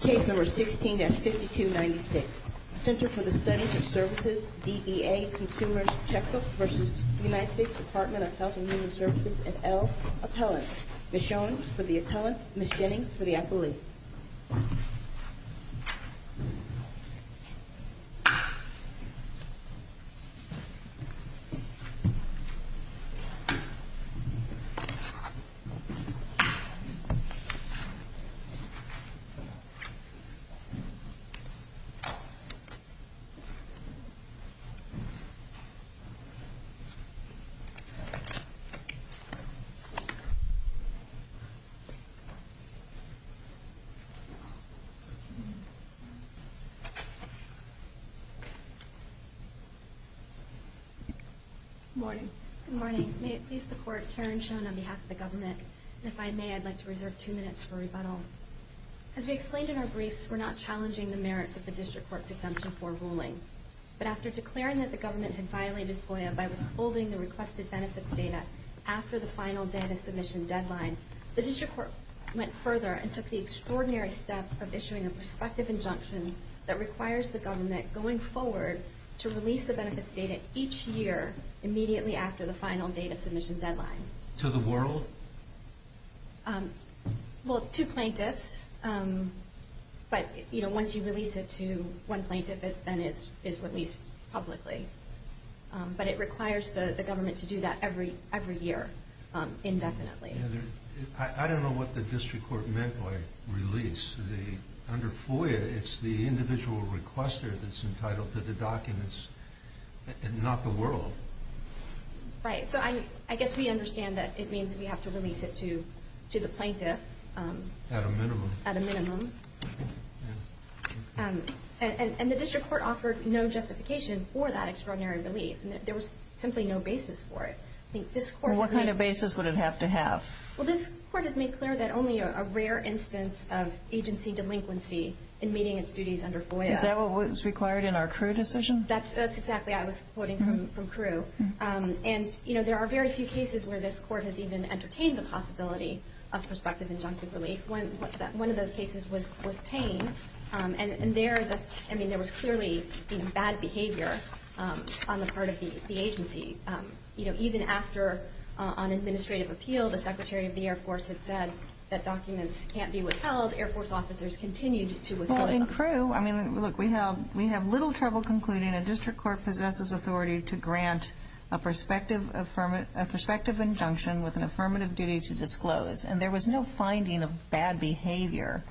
Case No. 16-5296 Center for the Study of Services DEA Consumer's Checkbook v. United States Department of Health and Human Services L. Appellant Ms. Schoen for the Appellant Ms. Jennings for the Appellee Ms. Schoen for the Appellant Good morning. Good morning. May it please the Court, Karen Schoen on behalf of the Government. And if I may, I'd like to reserve two minutes for rebuttal. As we explained in our briefs, we're not challenging the merits of the District Court's Exemption 4 ruling. But after declaring that the Government had violated FOIA by withholding the requested benefits data after the final data submission deadline, the District Court went further and took the extraordinary step of issuing a prospective injunction that requires the Government, going forward, to release the benefits data each year immediately after the final data submission deadline. To the world? Well, to plaintiffs. But, you know, once you release it to one plaintiff, it then is released publicly. But it requires the Government to do that every year indefinitely. I don't know what the District Court meant by release. Under FOIA, it's the individual requester that's entitled to the documents, not the world. Right. So I guess we understand that it means we have to release it to the plaintiff. At a minimum. At a minimum. And the District Court offered no justification for that extraordinary relief. There was simply no basis for it. What kind of basis would it have to have? Well, this Court has made clear that only a rare instance of agency delinquency in meeting its duties under FOIA. Is that what was required in our CRU decision? That's exactly what I was quoting from CRU. And, you know, there are very few cases where this Court has even entertained the possibility of prospective injunctive relief. One of those cases was Payne. And there was clearly bad behavior on the part of the agency. Even after, on administrative appeal, the Secretary of the Air Force had said that documents can't be withheld, Air Force officers continued to withhold them. Well, in CRU, I mean, look, we have little trouble concluding a District Court possesses authority to grant a prospective injunction with an affirmative duty to disclose. And there was no finding of bad behavior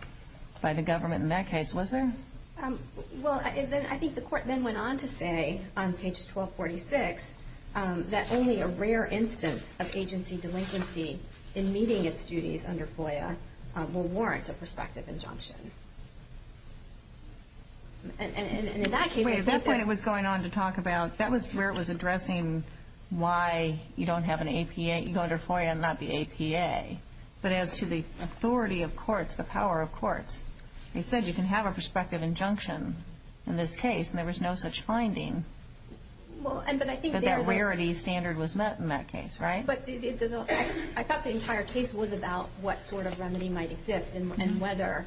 by the government in that case, was there? Well, I think the Court then went on to say, on page 1246, that only a rare instance of agency delinquency in meeting its duties under FOIA will warrant a prospective injunction. Wait, at that point it was going on to talk about, that was where it was addressing why you don't have an APA, you go under FOIA and not the APA. But as to the authority of courts, the power of courts, they said you can have a prospective injunction in this case, and there was no such finding. But that rarity standard was met in that case, right? I thought the entire case was about what sort of remedy might exist, and whether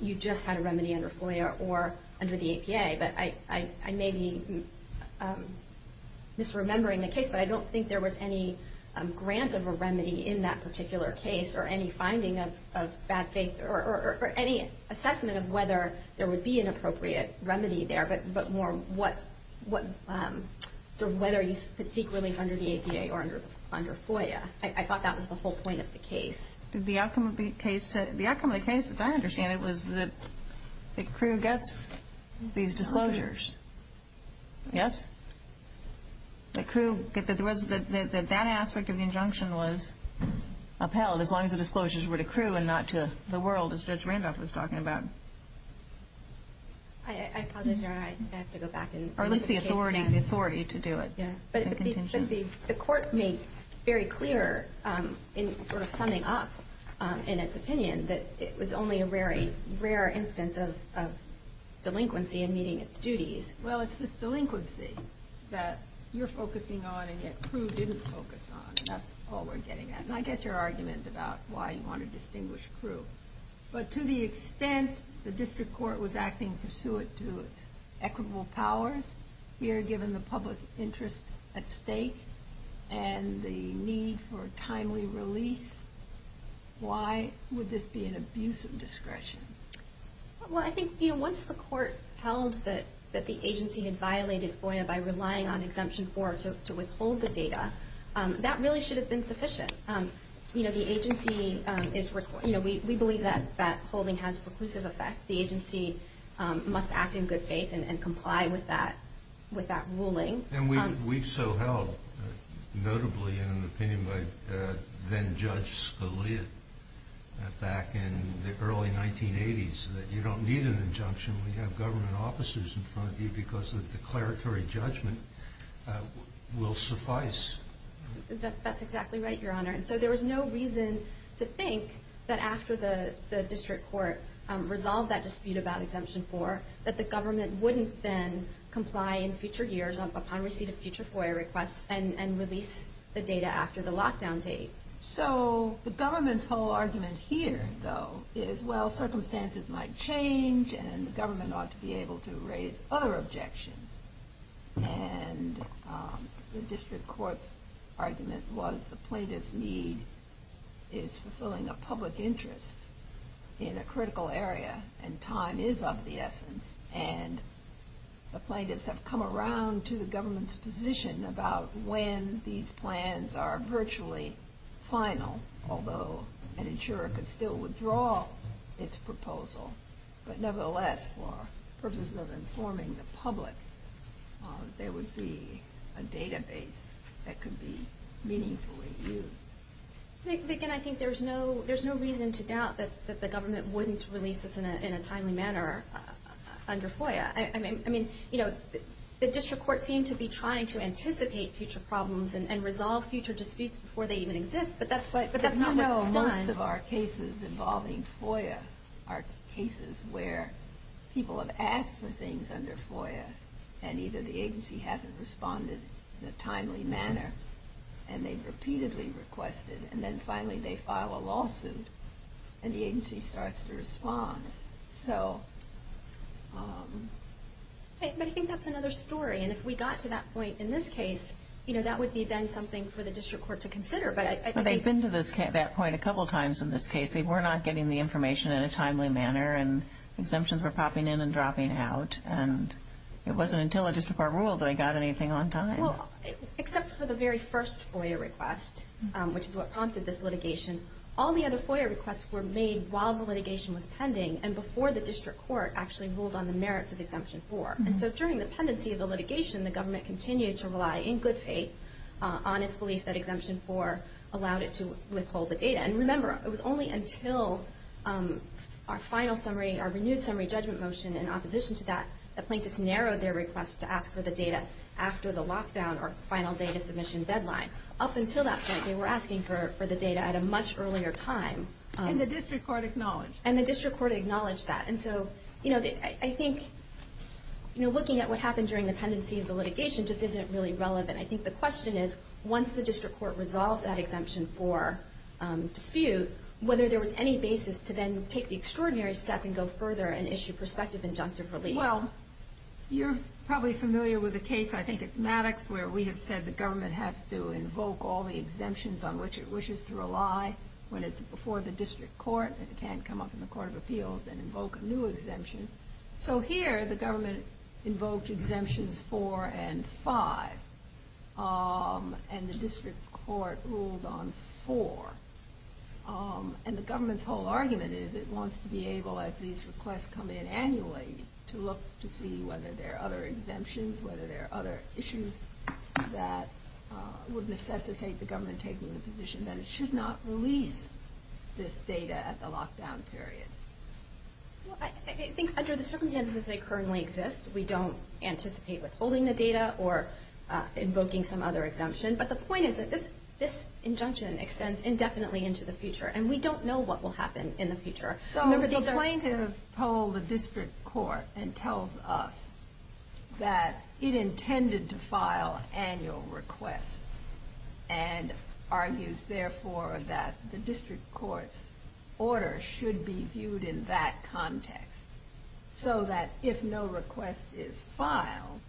you just had a remedy under FOIA or under the APA. But I may be misremembering the case, but I don't think there was any grant of a remedy in that particular case, or any finding of bad faith, or any assessment of whether there would be an appropriate remedy there, but more what sort of whether you seek relief under the APA or under FOIA. I thought that was the whole point of the case. The outcome of the case, as I understand it, was that the crew gets these disclosures. Yes? The crew, that aspect of the injunction was upheld, as long as the disclosures were to crew and not to the world, as Judge Randolph was talking about. I apologize, Your Honor, I have to go back and look at the case again. Or at least the authority to do it. But the court made very clear in sort of summing up in its opinion that it was only a rare instance of delinquency in meeting its duties. Well, it's this delinquency that you're focusing on and yet crew didn't focus on, and that's all we're getting at. And I get your argument about why you want to distinguish crew. But to the extent the district court was acting pursuant to its equitable powers, here given the public interest at stake and the need for timely release, why would this be an abuse of discretion? Well, I think once the court held that the agency had violated FOIA by relying on Exemption 4 to withhold the data, that really should have been sufficient. But, you know, we believe that holding has a preclusive effect. The agency must act in good faith and comply with that ruling. And we've so held, notably in an opinion by then-Judge Scalia back in the early 1980s, that you don't need an injunction when you have government officers in front of you because the declaratory judgment will suffice. That's exactly right, Your Honor. And so there was no reason to think that after the district court resolved that dispute about Exemption 4 that the government wouldn't then comply in future years upon receipt of future FOIA requests and release the data after the lockdown date. So the government's whole argument here, though, is, well, circumstances might change and the government ought to be able to raise other objections. And the district court's argument was the plaintiff's need is fulfilling a public interest in a critical area and time is of the essence. And the plaintiffs have come around to the government's position about when these plans are virtually final, although an insurer could still withdraw its proposal. But nevertheless, for purposes of informing the public, there would be a database that could be meaningfully used. But, again, I think there's no reason to doubt that the government wouldn't release this in a timely manner under FOIA. I mean, you know, the district court seemed to be trying to anticipate future problems and resolve future disputes before they even exist, but that's not what's done. Most of our cases involving FOIA are cases where people have asked for things under FOIA and either the agency hasn't responded in a timely manner and they've repeatedly requested and then finally they file a lawsuit and the agency starts to respond. So... But I think that's another story. And if we got to that point in this case, you know, that would be then something for the district court to consider. But they've been to that point a couple times in this case. They were not getting the information in a timely manner and exemptions were popping in and dropping out. And it wasn't until a district court ruled that they got anything on time. Well, except for the very first FOIA request, which is what prompted this litigation, all the other FOIA requests were made while the litigation was pending and before the district court actually ruled on the merits of Exemption 4. And so during the pendency of the litigation, the government continued to rely, in good faith, on its belief that Exemption 4 allowed it to withhold the data. And remember, it was only until our final summary, our renewed summary judgment motion in opposition to that, that plaintiffs narrowed their request to ask for the data after the lockdown or final data submission deadline. Up until that point, they were asking for the data at a much earlier time. And the district court acknowledged. And the district court acknowledged that. And so, you know, I think looking at what happened during the pendency of the litigation just isn't really relevant. I think the question is, once the district court resolved that Exemption 4 dispute, whether there was any basis to then take the extraordinary step and go further and issue prospective injunctive relief. Well, you're probably familiar with the case, I think it's Maddox, where we have said the government has to invoke all the exemptions on which it wishes to rely when it's before the district court. It can't come up in the Court of Appeals and invoke a new exemption. So here, the government invoked exemptions 4 and 5. And the district court ruled on 4. And the government's whole argument is it wants to be able, as these requests come in annually, to look to see whether there are other exemptions, whether there are other issues that would necessitate the government taking the position that it should not release this data at the lockdown period. I think under the circumstances they currently exist, we don't anticipate withholding the data or invoking some other exemption. But the point is that this injunction extends indefinitely into the future, and we don't know what will happen in the future. So the plaintiff told the district court and tells us that it intended to file annual requests and argues, therefore, that the district court's order should be viewed in that context so that if no request is filed,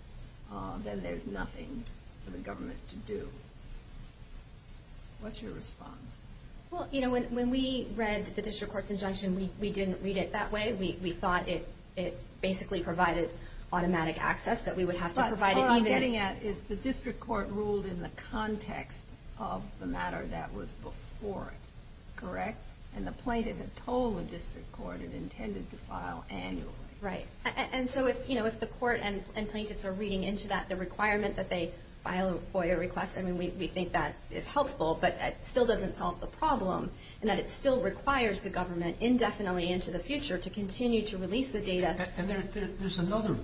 then there's nothing for the government to do. What's your response? Well, you know, when we read the district court's injunction, we didn't read it that way. We thought it basically provided automatic access, that we would have to provide it even. What I'm getting at is the district court ruled in the context of the matter that was before it. Correct? And the plaintiff had told the district court it intended to file annually. Right. And so if the court and plaintiffs are reading into that, the requirement that they file FOIA requests, I mean, we think that is helpful, but it still doesn't solve the problem in that it still requires the government indefinitely into the future to continue to release the data. And there's another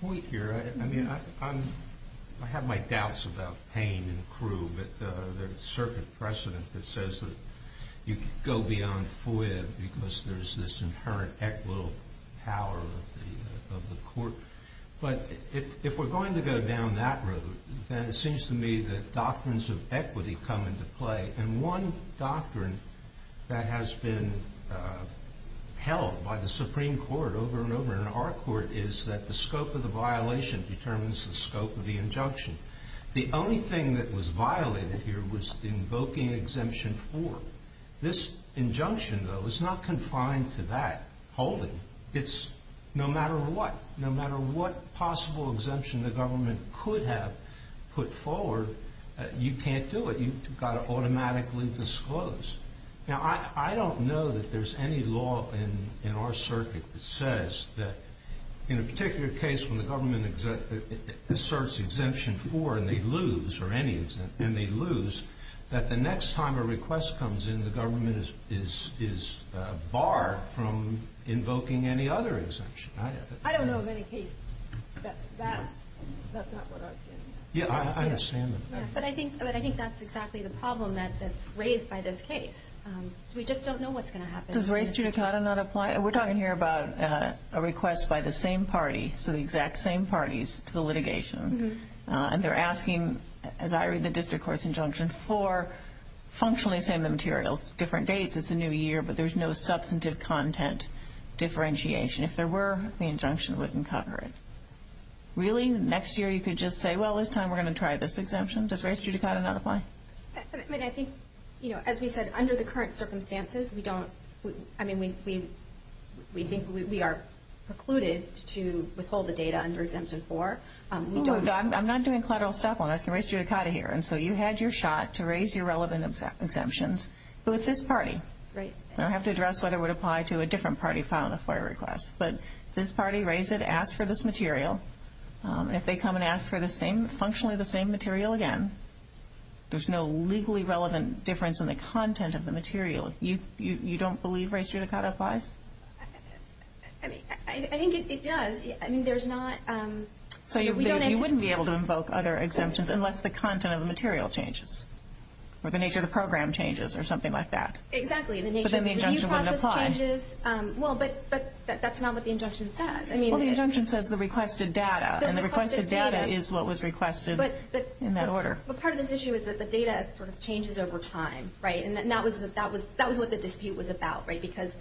point here. I mean, I have my doubts about Payne and Crewe, but there's a circuit precedent that says that you can go beyond FOIA because there's this inherent equitable power of the court. But if we're going to go down that road, then it seems to me that doctrines of equity come into play. And one doctrine that has been held by the Supreme Court over and over in our court is that the scope of the violation determines the scope of the injunction. The only thing that was violated here was invoking Exemption 4. This injunction, though, is not confined to that holding. It's no matter what. No matter what possible exemption the government could have put forward, you can't do it. You've got to automatically disclose. Now, I don't know that there's any law in our circuit that says that in a particular case when the government asserts Exemption 4 and they lose, or any exemption, and they lose, that the next time a request comes in, the government is barred from invoking any other exemption. I don't know of any case that's not what I was getting at. Yeah, I understand that. But I think that's exactly the problem that's raised by this case. So we just don't know what's going to happen. Does Res Judicata not apply? We're talking here about a request by the same party, so the exact same parties, to the litigation. And they're asking, as I read the district court's injunction, for functionally the same materials, different dates, it's a new year, but there's no substantive content differentiation. If there were, the injunction wouldn't cover it. Really, next year you could just say, well, this time we're going to try this exemption? Does Res Judicata not apply? I mean, I think, you know, as we said, under the current circumstances, we don't – I mean, we think we are precluded to withhold the data under Exemption 4. I'm not doing collateral stuff. I'm asking Res Judicata here. And so you had your shot to raise your relevant exemptions with this party. Right. I don't have to address whether it would apply to a different party filing a FOIA request. But this party raised it, asked for this material. If they come and ask for the same – functionally the same material again, there's no legally relevant difference in the content of the material. You don't believe Res Judicata applies? I mean, I think it does. I mean, there's not – So you wouldn't be able to invoke other exemptions unless the content of the material changes or the nature of the program changes or something like that. Exactly, and the nature of the review process changes. Well, but that's not what the injunction says. Well, the injunction says the requested data, and the requested data is what was requested in that order. But part of this issue is that the data sort of changes over time, right? And that was what the dispute was about, right, because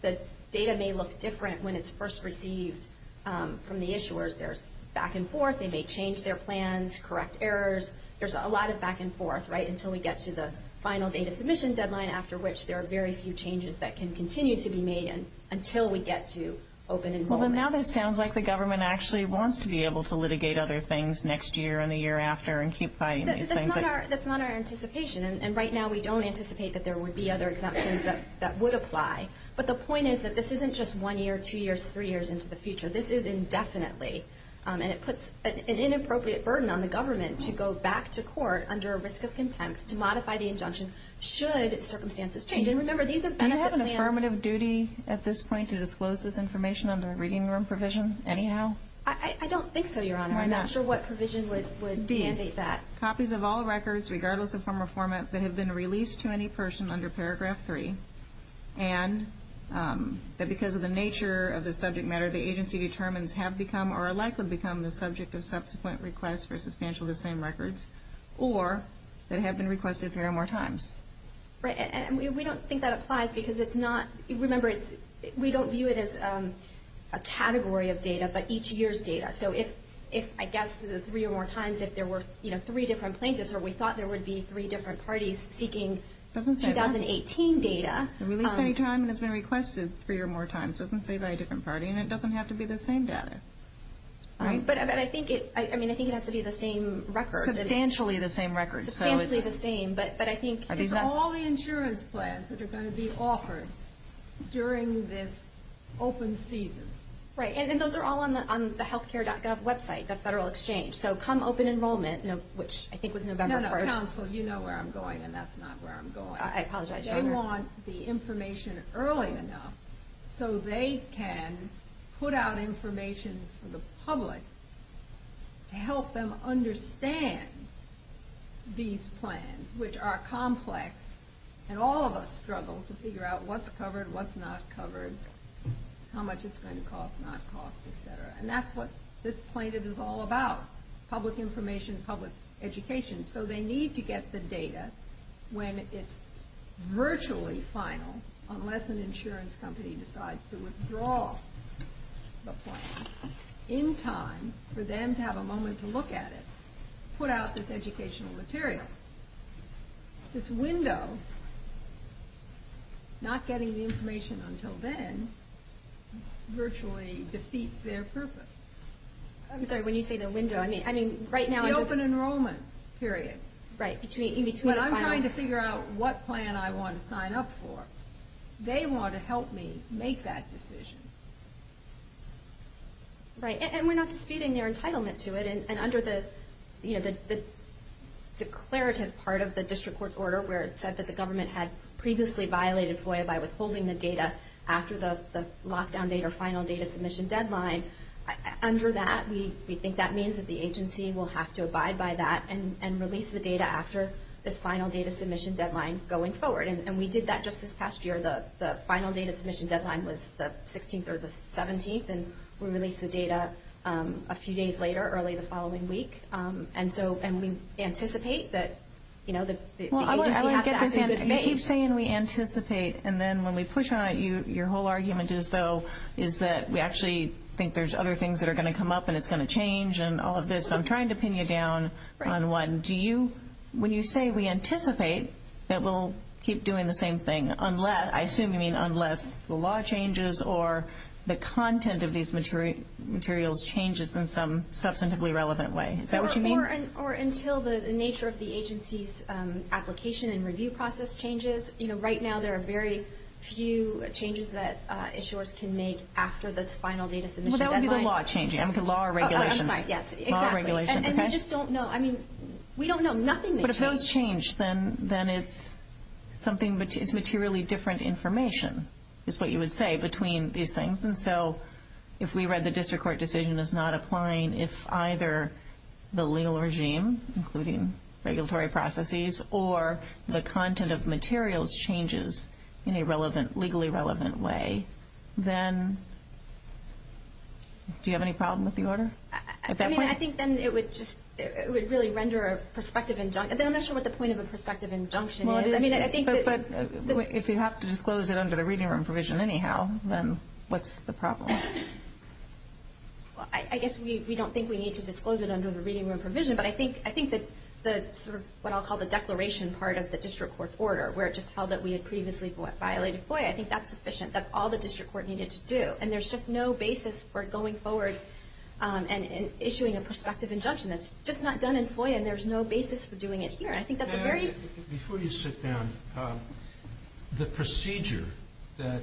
the data may look different when it's first received from the issuers. There's back and forth. They may change their plans, correct errors. There's a lot of back and forth, right, until we get to the final data submission deadline, after which there are very few changes that can continue to be made until we get to open enrollment. Well, then now this sounds like the government actually wants to be able to litigate other things next year and the year after and keep fighting these things. That's not our anticipation, and right now we don't anticipate that there would be other exemptions that would apply. But the point is that this isn't just one year, two years, three years into the future. This is indefinitely, and it puts an inappropriate burden on the government to go back to court under a risk of contempt to modify the injunction should circumstances change. And remember, these are benefit plans. Do you have an affirmative duty at this point to disclose this information under a reading room provision anyhow? I don't think so, Your Honor. I'm not sure what provision would mandate that. D, copies of all records, regardless of form or format, that have been released to any person under Paragraph 3, and that because of the nature of the subject matter, the agency determines have become or are likely to become the subject of subsequent requests for substantial disdain records, or that have been requested three or more times. Right, and we don't think that applies because it's not – remember, we don't view it as a category of data, but each year's data. So if, I guess, three or more times, if there were three different plaintiffs or we thought there would be three different parties seeking 2018 data. Released any time and has been requested three or more times. It doesn't say by a different party, and it doesn't have to be the same data. But I think it has to be the same records. Substantially the same records. Substantially the same, but I think – It's all the insurance plans that are going to be offered during this open season. Right, and those are all on the healthcare.gov website, the Federal Exchange. So come open enrollment, which I think was November 1st. No, no, counsel, you know where I'm going, and that's not where I'm going. I apologize, Your Honor. They want the information early enough so they can put out information for the public to help them understand these plans, which are complex, and all of us struggle to figure out what's covered, what's not covered, how much it's going to cost, not cost, et cetera. And that's what this plaintiff is all about, public information, public education. So they need to get the data when it's virtually final, unless an insurance company decides to withdraw the plan, in time for them to have a moment to look at it, put out this educational material. This window, not getting the information until then, virtually defeats their purpose. I'm sorry, when you say the window, I mean right now – Open enrollment, period. Right, in between the final – When I'm trying to figure out what plan I want to sign up for, they want to help me make that decision. Right, and we're not disputing their entitlement to it. And under the declarative part of the district court's order, where it said that the government had previously violated FOIA by withholding the data after the lockdown date or final data submission deadline, under that we think that means that the agency will have to abide by that and release the data after this final data submission deadline going forward. And we did that just this past year. The final data submission deadline was the 16th or the 17th, and we released the data a few days later, early the following week. And we anticipate that the agency has to act in good faith. You keep saying we anticipate, and then when we push on it, your whole argument is, though, is that we actually think there's other things that are going to come up and it's going to change and all of this. So I'm trying to pin you down on one. When you say we anticipate that we'll keep doing the same thing, I assume you mean unless the law changes or the content of these materials changes in some substantively relevant way. Is that what you mean? Or until the nature of the agency's application and review process changes. Right now there are very few changes that insurers can make after this final data submission deadline. Well, that would be the law changing. I mean, the law or regulations. I'm sorry, yes, exactly. Law or regulations, okay. And we just don't know. I mean, we don't know. Nothing may change. But if those change, then it's materially different information is what you would say between these things. And so if we read the district court decision as not applying, if either the legal regime, including regulatory processes, or the content of materials changes in a legally relevant way, then do you have any problem with the order at that point? I mean, I think then it would really render a perspective injunction. I'm not sure what the point of a perspective injunction is. I mean, I think that. If you have to disclose it under the reading room provision anyhow, then what's the problem? Well, I guess we don't think we need to disclose it under the reading room provision. But I think that the sort of what I'll call the declaration part of the district court's order, where it just held that we had previously violated FOIA, I think that's sufficient. That's all the district court needed to do. And there's just no basis for going forward and issuing a perspective injunction. That's just not done in FOIA, and there's no basis for doing it here. I think that's a very... Before you sit down, the procedure that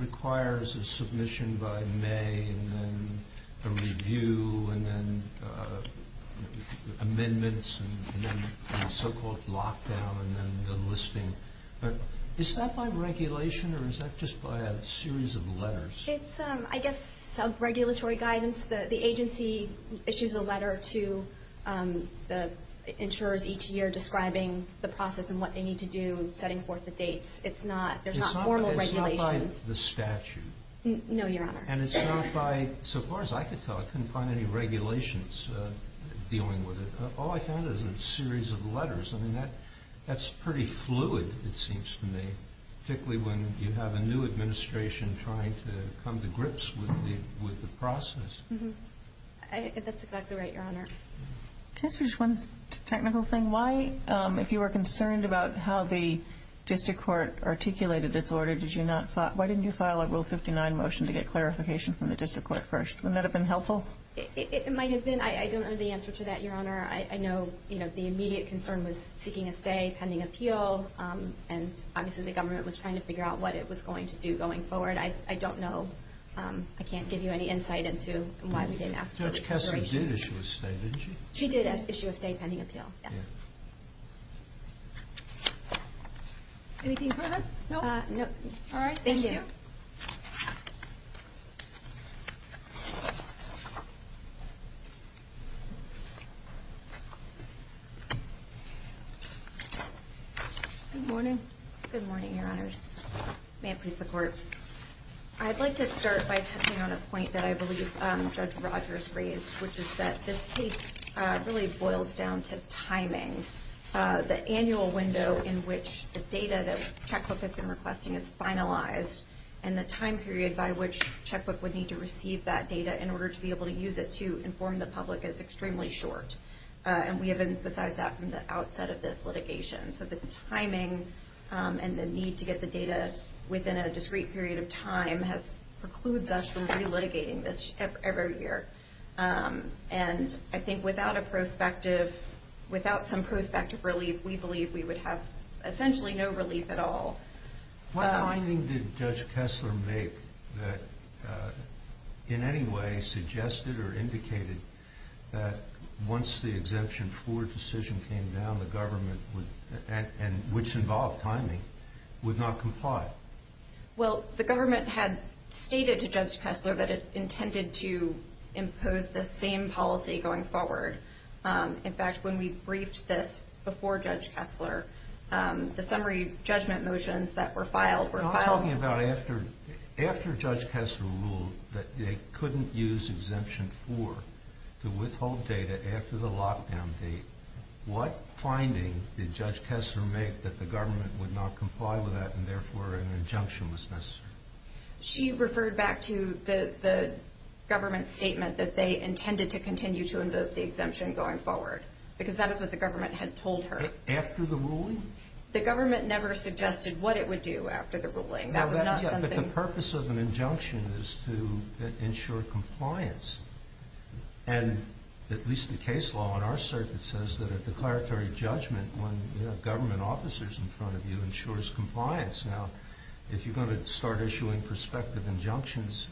requires a submission by May and then a review and then amendments and then so-called lockdown and then enlisting, is that by regulation or is that just by a series of letters? It's, I guess, sub-regulatory guidance. The agency issues a letter to the insurers each year describing the process and what they need to do, setting forth the dates. It's not... There's not formal regulations. It's not by the statute? No, Your Honor. And it's not by... So far as I could tell, I couldn't find any regulations dealing with it. All I found is a series of letters. I mean, that's pretty fluid, it seems to me, particularly when you have a new administration trying to come to grips with the process. That's exactly right, Your Honor. Just one technical thing. Why, if you were concerned about how the district court articulated its order, why didn't you file a Rule 59 motion to get clarification from the district court first? Wouldn't that have been helpful? It might have been. I don't know the answer to that, Your Honor. I know the immediate concern was seeking a stay, pending appeal, and obviously the government was trying to figure out what it was going to do going forward. I don't know. I can't give you any insight into why we didn't ask for it. Judge Kessler did issue a stay, didn't she? She did issue a stay pending appeal, yes. Anything further? No. All right. Thank you. Good morning. Good morning, Your Honors. May it please the Court. I'd like to start by touching on a point that I believe Judge Rogers raised, which is that this case really boils down to timing. The annual window in which the data that Checkbook has been requesting is finalized, and the time period by which Checkbook would need to receive that data in order to be able to use it to inform the public is extremely short, and we have emphasized that from the outset of this litigation. So the timing and the need to get the data within a discrete period of time precludes us from re-litigating this every year. And I think without some prospective relief, we believe we would have essentially no relief at all. What finding did Judge Kessler make that in any way suggested or indicated that once the Exemption 4 decision came down, the government, which involved timing, would not comply? Well, the government had stated to Judge Kessler that it intended to impose the same policy going forward. In fact, when we briefed this before Judge Kessler, the summary judgment motions that were filed were filed. I'm talking about after Judge Kessler ruled that they couldn't use Exemption 4 to withhold data after the lockdown date. What finding did Judge Kessler make that the government would not comply with that and, therefore, an injunction was necessary? She referred back to the government's statement that they intended to continue to invoke the exemption going forward because that is what the government had told her. After the ruling? The government never suggested what it would do after the ruling. That was not something... But the purpose of an injunction is to ensure compliance. And at least the case law in our circuit says that a declaratory judgment when you have government officers in front of you ensures compliance. Now, if you're going to start issuing prospective injunctions,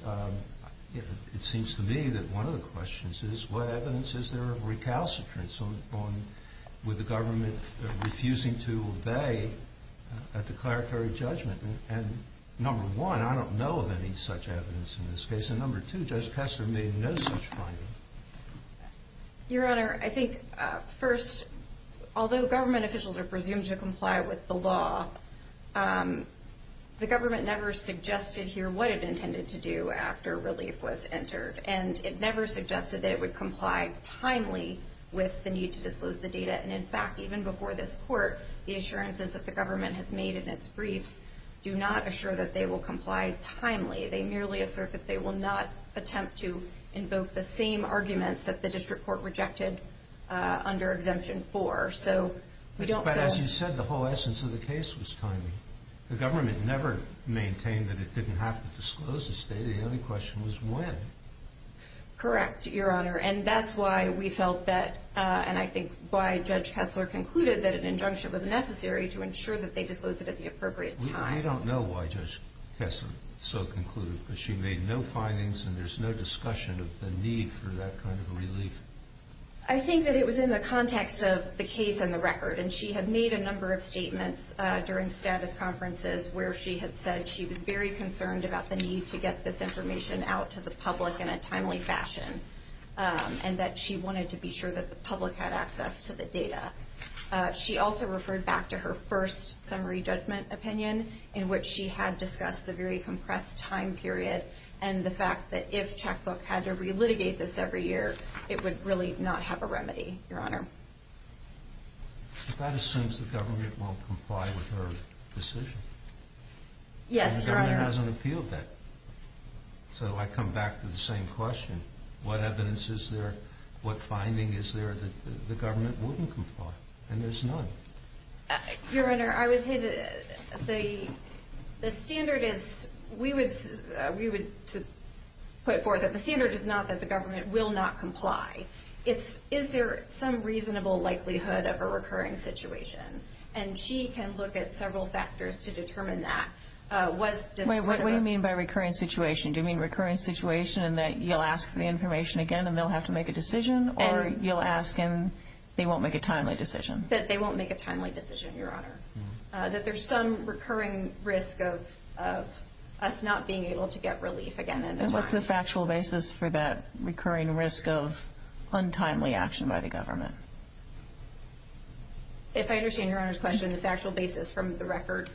it seems to me that one of the questions is, what evidence is there of recalcitrance with the government refusing to obey a declaratory judgment? And, number one, I don't know of any such evidence in this case. And, number two, Judge Kessler made no such finding. Your Honor, I think, first, although government officials are presumed to comply with the law, the government never suggested here what it intended to do after relief was entered. And it never suggested that it would comply timely with the need to disclose the data. And, in fact, even before this court, the assurances that the government has made in its briefs do not assure that they will comply timely. They merely assert that they will not attempt to invoke the same arguments that the district court rejected under Exemption 4. But, as you said, the whole essence of the case was timely. The government never maintained that it didn't have to disclose the data. The only question was when. Correct, Your Honor. And that's why we felt that, and I think why Judge Kessler concluded, that an injunction was necessary to ensure that they disclosed it at the appropriate time. We don't know why Judge Kessler so concluded, because she made no findings and there's no discussion of the need for that kind of a relief. I think that it was in the context of the case and the record. And she had made a number of statements during status conferences where she had said she was very concerned about the need to get this information out to the public in a timely fashion and that she wanted to be sure that the public had access to the data. She also referred back to her first summary judgment opinion in which she had discussed the very compressed time period and the fact that if Checkbook had to relitigate this every year, it would really not have a remedy, Your Honor. But that assumes the government won't comply with her decision. Yes, Your Honor. And the government hasn't appealed that. So I come back to the same question. What evidence is there? What finding is there that the government wouldn't comply? And there's none. Your Honor, I would say that the standard is we would put it forth that the standard is not that the government will not comply. It's is there some reasonable likelihood of a recurring situation? And she can look at several factors to determine that. What do you mean by recurring situation? Do you mean recurring situation in that you'll ask for the information again and they'll have to make a decision, or you'll ask and they won't make a timely decision? That they won't make a timely decision, Your Honor. That there's some recurring risk of us not being able to get relief again. And what's the factual basis for that recurring risk of untimely action by the government? If I understand Your Honor's question, the factual basis from the record.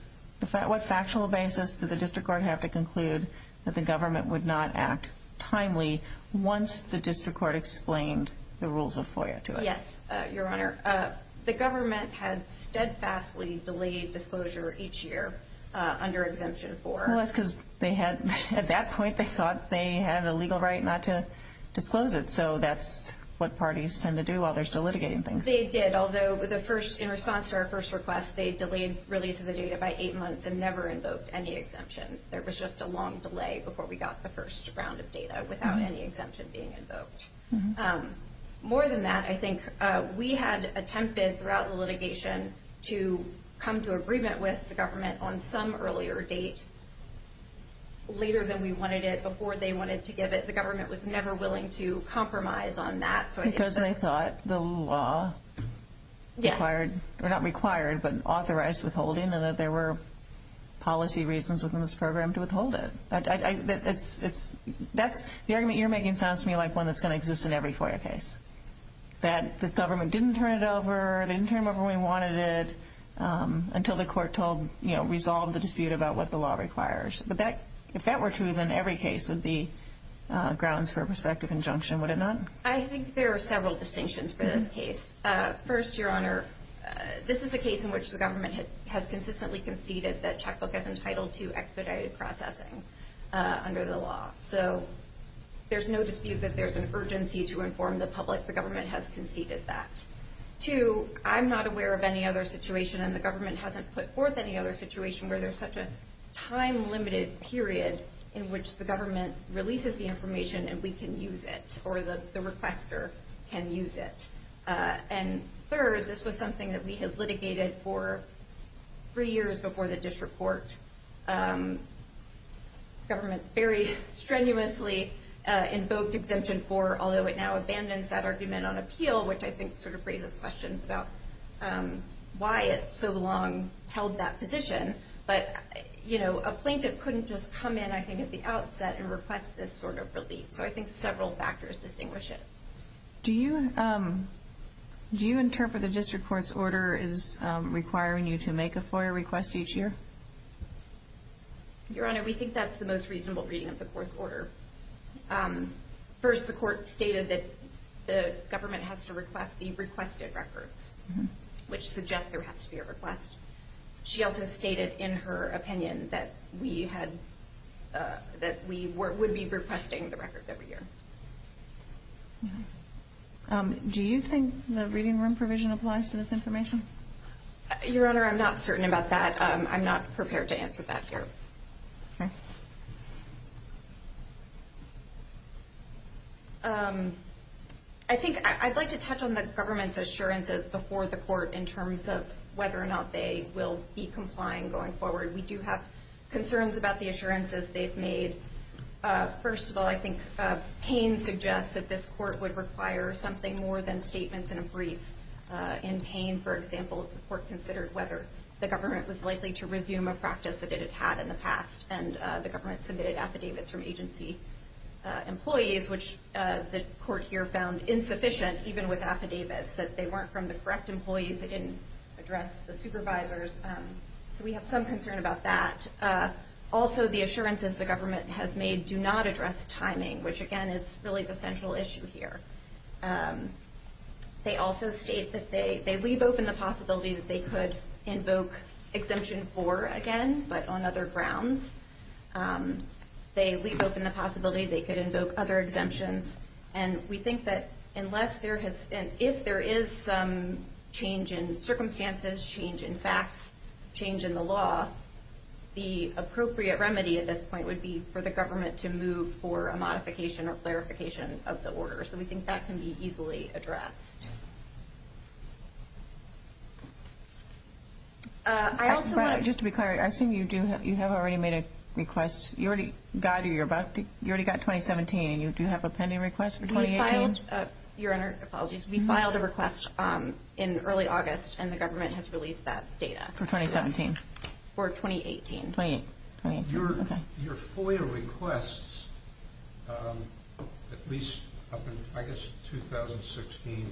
What factual basis did the district court have to conclude that the government would not act timely once the district court explained the rules of FOIA to it? Yes, Your Honor. The government had steadfastly delayed disclosure each year under Exemption 4. Well, that's because they had, at that point, they thought they had a legal right not to disclose it. So that's what parties tend to do while they're still litigating things. They did, although in response to our first request, they delayed release of the data by eight months and never invoked any exemption. There was just a long delay before we got the first round of data without any exemption being invoked. More than that, I think we had attempted throughout the litigation to come to agreement with the government on some earlier date, later than we wanted it, before they wanted to give it. The government was never willing to compromise on that. Because they thought the law required, or not required, but authorized withholding and that there were policy reasons within this program to withhold it. The argument you're making sounds to me like one that's going to exist in every FOIA case, that the government didn't turn it over, didn't turn it over when we wanted it, until the court resolved the dispute about what the law requires. But if that were true, then every case would be grounds for a prospective injunction, would it not? I think there are several distinctions for this case. First, Your Honor, this is a case in which the government has consistently conceded that checkbook is entitled to expedited processing under the law. So there's no dispute that there's an urgency to inform the public. The government has conceded that. Two, I'm not aware of any other situation, and the government hasn't put forth any other situation where there's such a time-limited period in which the government releases the information and we can use it, or the requester can use it. And third, this was something that we had litigated for three years before the disreport. The government very strenuously invoked Exemption 4, although it now abandons that argument on appeal, which I think sort of raises questions about why it so long held that position. But a plaintiff couldn't just come in, I think, at the outset and request this sort of relief. So I think several factors distinguish it. Do you interpret the district court's order as requiring you to make a FOIA request each year? Your Honor, we think that's the most reasonable reading of the court's order. First, the court stated that the government has to request the requested records, which suggests there has to be a request. She also stated in her opinion that we would be requesting the records every year. Do you think the reading room provision applies to this information? Your Honor, I'm not certain about that. I'm not prepared to answer that here. I think I'd like to touch on the government's assurances before the court in terms of whether or not they will be complying going forward. We do have concerns about the assurances they've made. First of all, I think Payne suggests that this court would require something more than statements in a brief. In Payne, for example, the court considered whether the government was likely to resume a practice that it had had in the past, and the government submitted affidavits from agency employees, which the court here found insufficient, even with affidavits, that they weren't from the correct employees, they didn't address the supervisors. So we have some concern about that. Also, the assurances the government has made do not address timing, which again is really the central issue here. They also state that they leave open the possibility that they could invoke Exemption 4 again, but on other grounds. They leave open the possibility they could invoke other exemptions, and we think that if there is some change in circumstances, change in facts, change in the law, the appropriate remedy at this point would be for the government to move for a modification or clarification of the order. So we think that can be easily addressed. Just to be clear, I assume you have already made a request. You already got 2017, and you do have a pending request for 2018? Your Honor, apologies, we filed a request in early August, and the government has released that data. For 2017? For 2018. Your FOIA requests, at least up in, I guess, 2016,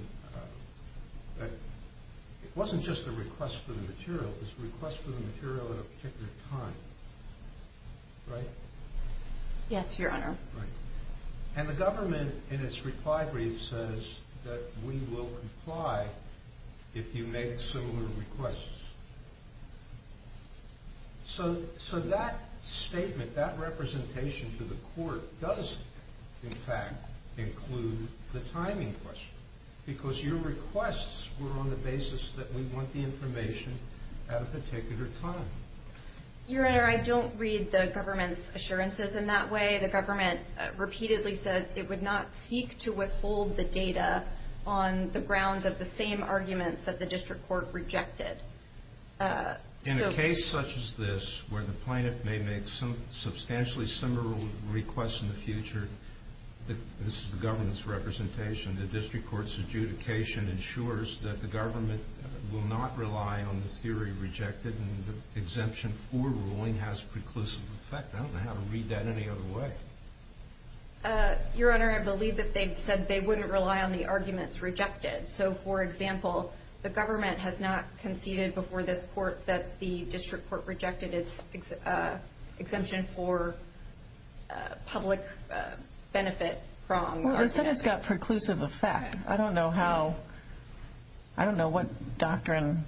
it wasn't just a request for the material, it was a request for the material at a particular time, right? Yes, Your Honor. Right. And the government, in its reply brief, says that we will comply if you make similar requests. So that statement, that representation to the court, does, in fact, include the timing question, because your requests were on the basis that we want the information at a particular time. Your Honor, I don't read the government's assurances in that way. The government repeatedly says it would not seek to withhold the data on the grounds of the same arguments that the district court rejected. In a case such as this, where the plaintiff may make substantially similar requests in the future, this is the government's representation, the district court's adjudication ensures that the government will not rely on the theory rejected, and the exemption for ruling has preclusive effect. I don't know how to read that any other way. Your Honor, I believe that they've said they wouldn't rely on the arguments rejected. So, for example, the government has not conceded before this court that the district court rejected its exemption for public benefit wrong argument. Well, they said it's got preclusive effect. I don't know what doctrine,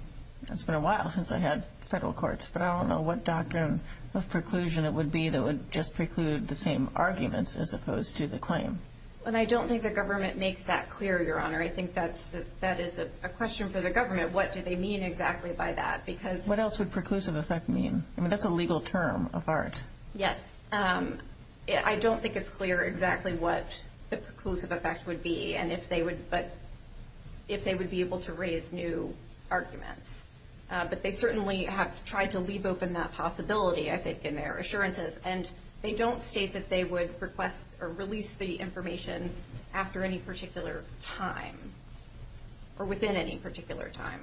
it's been a while since I had federal courts, but I don't know what doctrine of preclusion it would be that would just preclude the same arguments as opposed to the claim. I don't think the government makes that clear, Your Honor. I think that is a question for the government. What do they mean exactly by that? What else would preclusive effect mean? I mean, that's a legal term of art. Yes. I don't think it's clear exactly what the preclusive effect would be and if they would be able to raise new arguments. But they certainly have tried to leave open that possibility, I think, in their assurances. And they don't state that they would request or release the information after any particular time or within any particular time.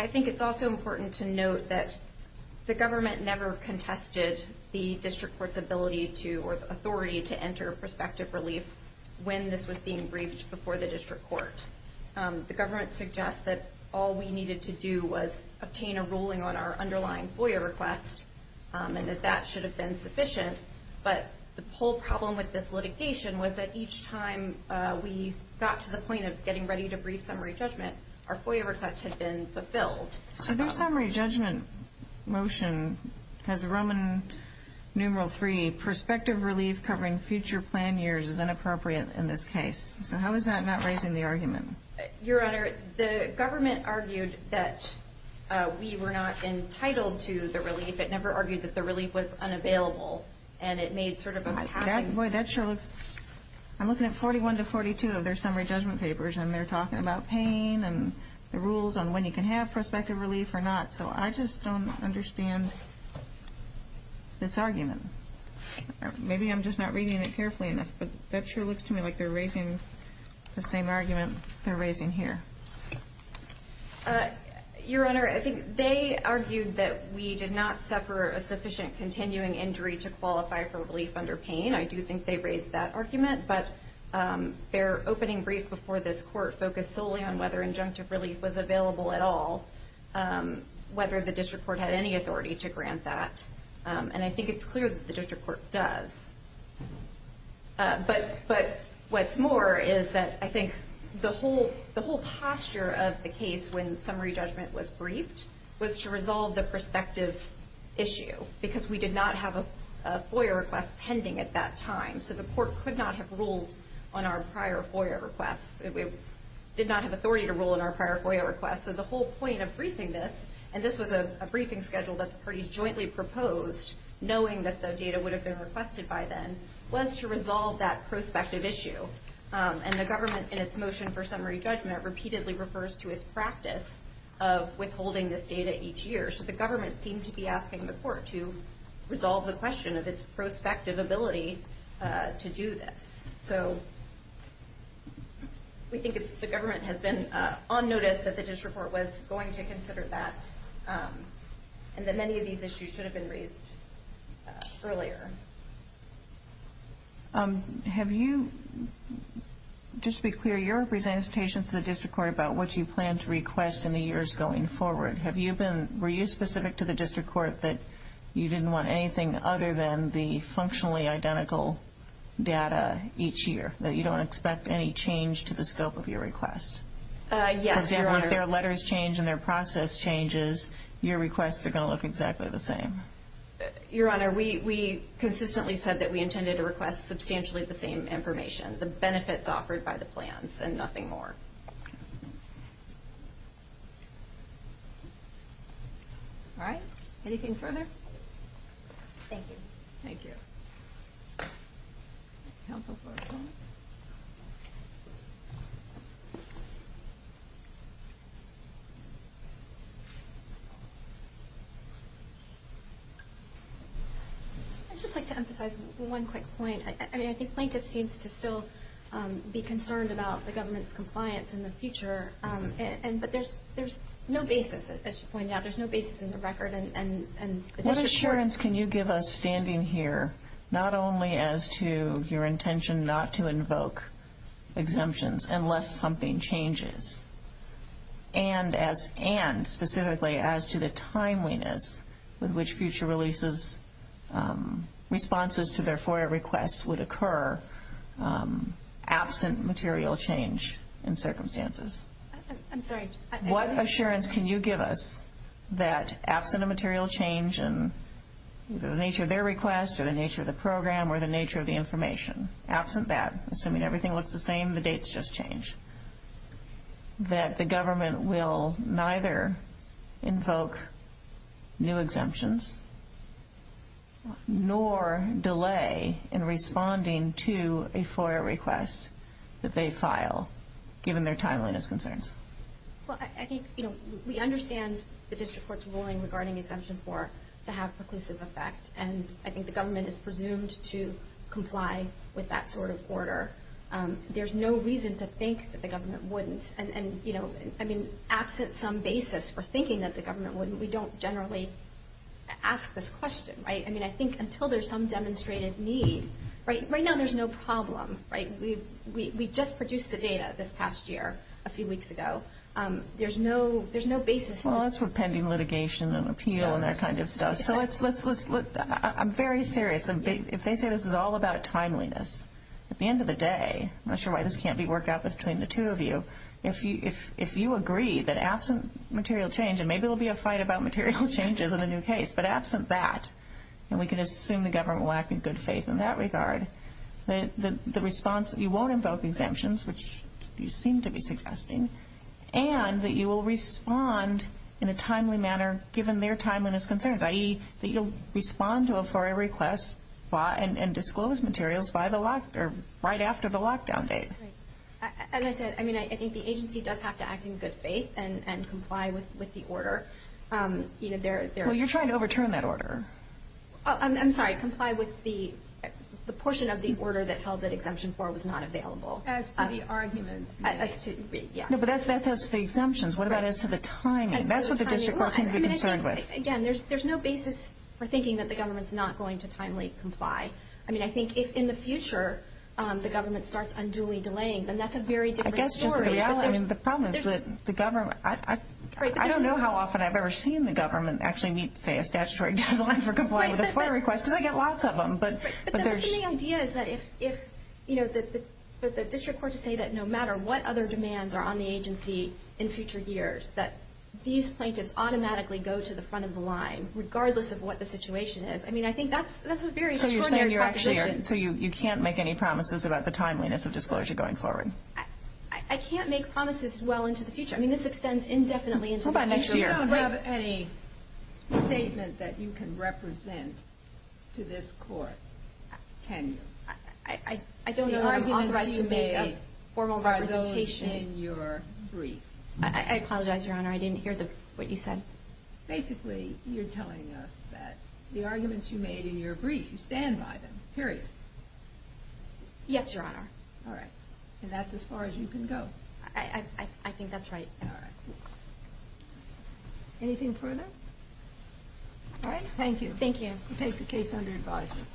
I think it's also important to note that the government never contested the district court's ability to, or authority to enter prospective relief when this was being briefed before the district court. The government suggests that all we needed to do was obtain a ruling on our underlying FOIA request and that that should have been sufficient. But the whole problem with this litigation was that each time we got to the point of getting ready to brief summary judgment, our FOIA request had been fulfilled. So their summary judgment motion has Roman numeral 3, prospective relief covering future plan years is inappropriate in this case. So how is that not raising the argument? Your Honor, the government argued that we were not entitled to the relief. It never argued that the relief was unavailable. And it made sort of a passing point. Boy, that sure looks... I'm looking at 41 to 42 of their summary judgment papers and they're talking about pain and the rules on when you can have prospective relief or not. So I just don't understand this argument. Maybe I'm just not reading it carefully enough, but that sure looks to me like they're raising the same argument they're raising here. Your Honor, I think they argued that we did not suffer a sufficient continuing injury to qualify for relief under pain. I do think they raised that argument. But their opening brief before this court focused solely on whether injunctive relief was available at all, whether the district court had any authority to grant that. And I think it's clear that the district court does. But what's more is that I think the whole posture of the case when summary judgment was briefed was to resolve the prospective issue because we did not have a FOIA request pending at that time. So the court could not have ruled on our prior FOIA requests. It did not have authority to rule on our prior FOIA requests. So the whole point of briefing this, and this was a briefing schedule that the parties jointly proposed, knowing that the data would have been requested by then, was to resolve that prospective issue. And the government, in its motion for summary judgment, repeatedly refers to its practice of withholding this data each year. So the government seemed to be asking the court to resolve the question of its prospective ability to do this. So we think the government has been on notice that the district court was going to consider that and that many of these issues should have been raised earlier. Have you, just to be clear, your presentation to the district court about what you plan to request in the years going forward, were you specific to the district court that you didn't want anything other than the functionally identical data each year, that you don't expect any change to the scope of your request? Yes, Your Honor. Because if their letters change and their process changes, your requests are going to look exactly the same. Your Honor, we consistently said that we intended to request substantially the same information, the benefits offered by the plans and nothing more. All right. Anything further? Thank you. Thank you. I'd just like to emphasize one quick point. I mean, I think plaintiff seems to still be concerned about the government's compliance in the future, but there's no basis, as you point out, there's no basis in the record and the district court... What assurance can you give us standing here, not only as to your intention not to invoke exemptions unless something changes, and specifically as to the timeliness with which future releases, responses to their FOIA requests would occur, absent material change in circumstances? I'm sorry. What assurance can you give us that absent a material change in the nature of their request or the nature of the program or the nature of the information, absent that, assuming everything looks the same, the dates just change, that the government will neither invoke new exemptions nor delay in responding to a FOIA request that they file, given their timeliness concerns? Well, I think, you know, we understand the district court's ruling regarding exemption 4 to have preclusive effect, and I think the government is presumed to comply with that sort of order. There's no reason to think that the government wouldn't, and, you know, I mean, absent some basis for thinking that the government wouldn't, we don't generally ask this question, right? I mean, I think until there's some demonstrated need, right? Right now, there's no problem, right? We just produced the data this past year, a few weeks ago. There's no basis. Well, that's for pending litigation and appeal and that kind of stuff. So let's, I'm very serious. If they say this is all about timeliness, at the end of the day, I'm not sure why this can't be worked out between the two of you, if you agree that absent material change, and maybe there'll be a fight about material changes in a new case, but absent that, and we can assume the government will act in good faith in that regard, that the response, you won't invoke exemptions, which you seem to be suggesting, and that you will respond in a timely manner, given their timeliness concerns, i.e., that you'll respond to a FOIA request and disclose materials right after the lockdown date. Right. As I said, I mean, I think the agency does have to act in good faith and comply with the order. Well, you're trying to overturn that order. I'm sorry. Comply with the portion of the order that held that Exemption 4 was not available. As to the arguments. Yes. No, but that's as to the exemptions. What about as to the timing? That's what the district will seem to be concerned with. Again, there's no basis for thinking that the government's not going to timely comply. I mean, I think if in the future the government starts unduly delaying, then that's a very different story. I guess just the reality, I mean, the problem is that the government, I don't know how often I've ever seen the government actually meet, say, a statutory deadline for complying with a FOIA request, because I get lots of them, but there's. But the idea is that if, you know, the district court to say that no matter what other demands are on the agency in future years, that these plaintiffs automatically go to the front of the line, regardless of what the situation is. I mean, I think that's a very short answer. So you're saying you're actually, so you can't make any promises about the timeliness of disclosure going forward? I can't make promises well into the future. I mean, this extends indefinitely into the future. What about next year? You don't have any statement that you can represent to this court, can you? I don't know that I'm authorized to make a formal representation. The arguments you made are those in your brief. I apologize, Your Honor, I didn't hear what you said. Basically, you're telling us that the arguments you made in your brief you stand by them, period. Yes, Your Honor. All right. And that's as far as you can go. I think that's right. All right. Anything further? All right. Thank you. Thank you. We take the case under advisement.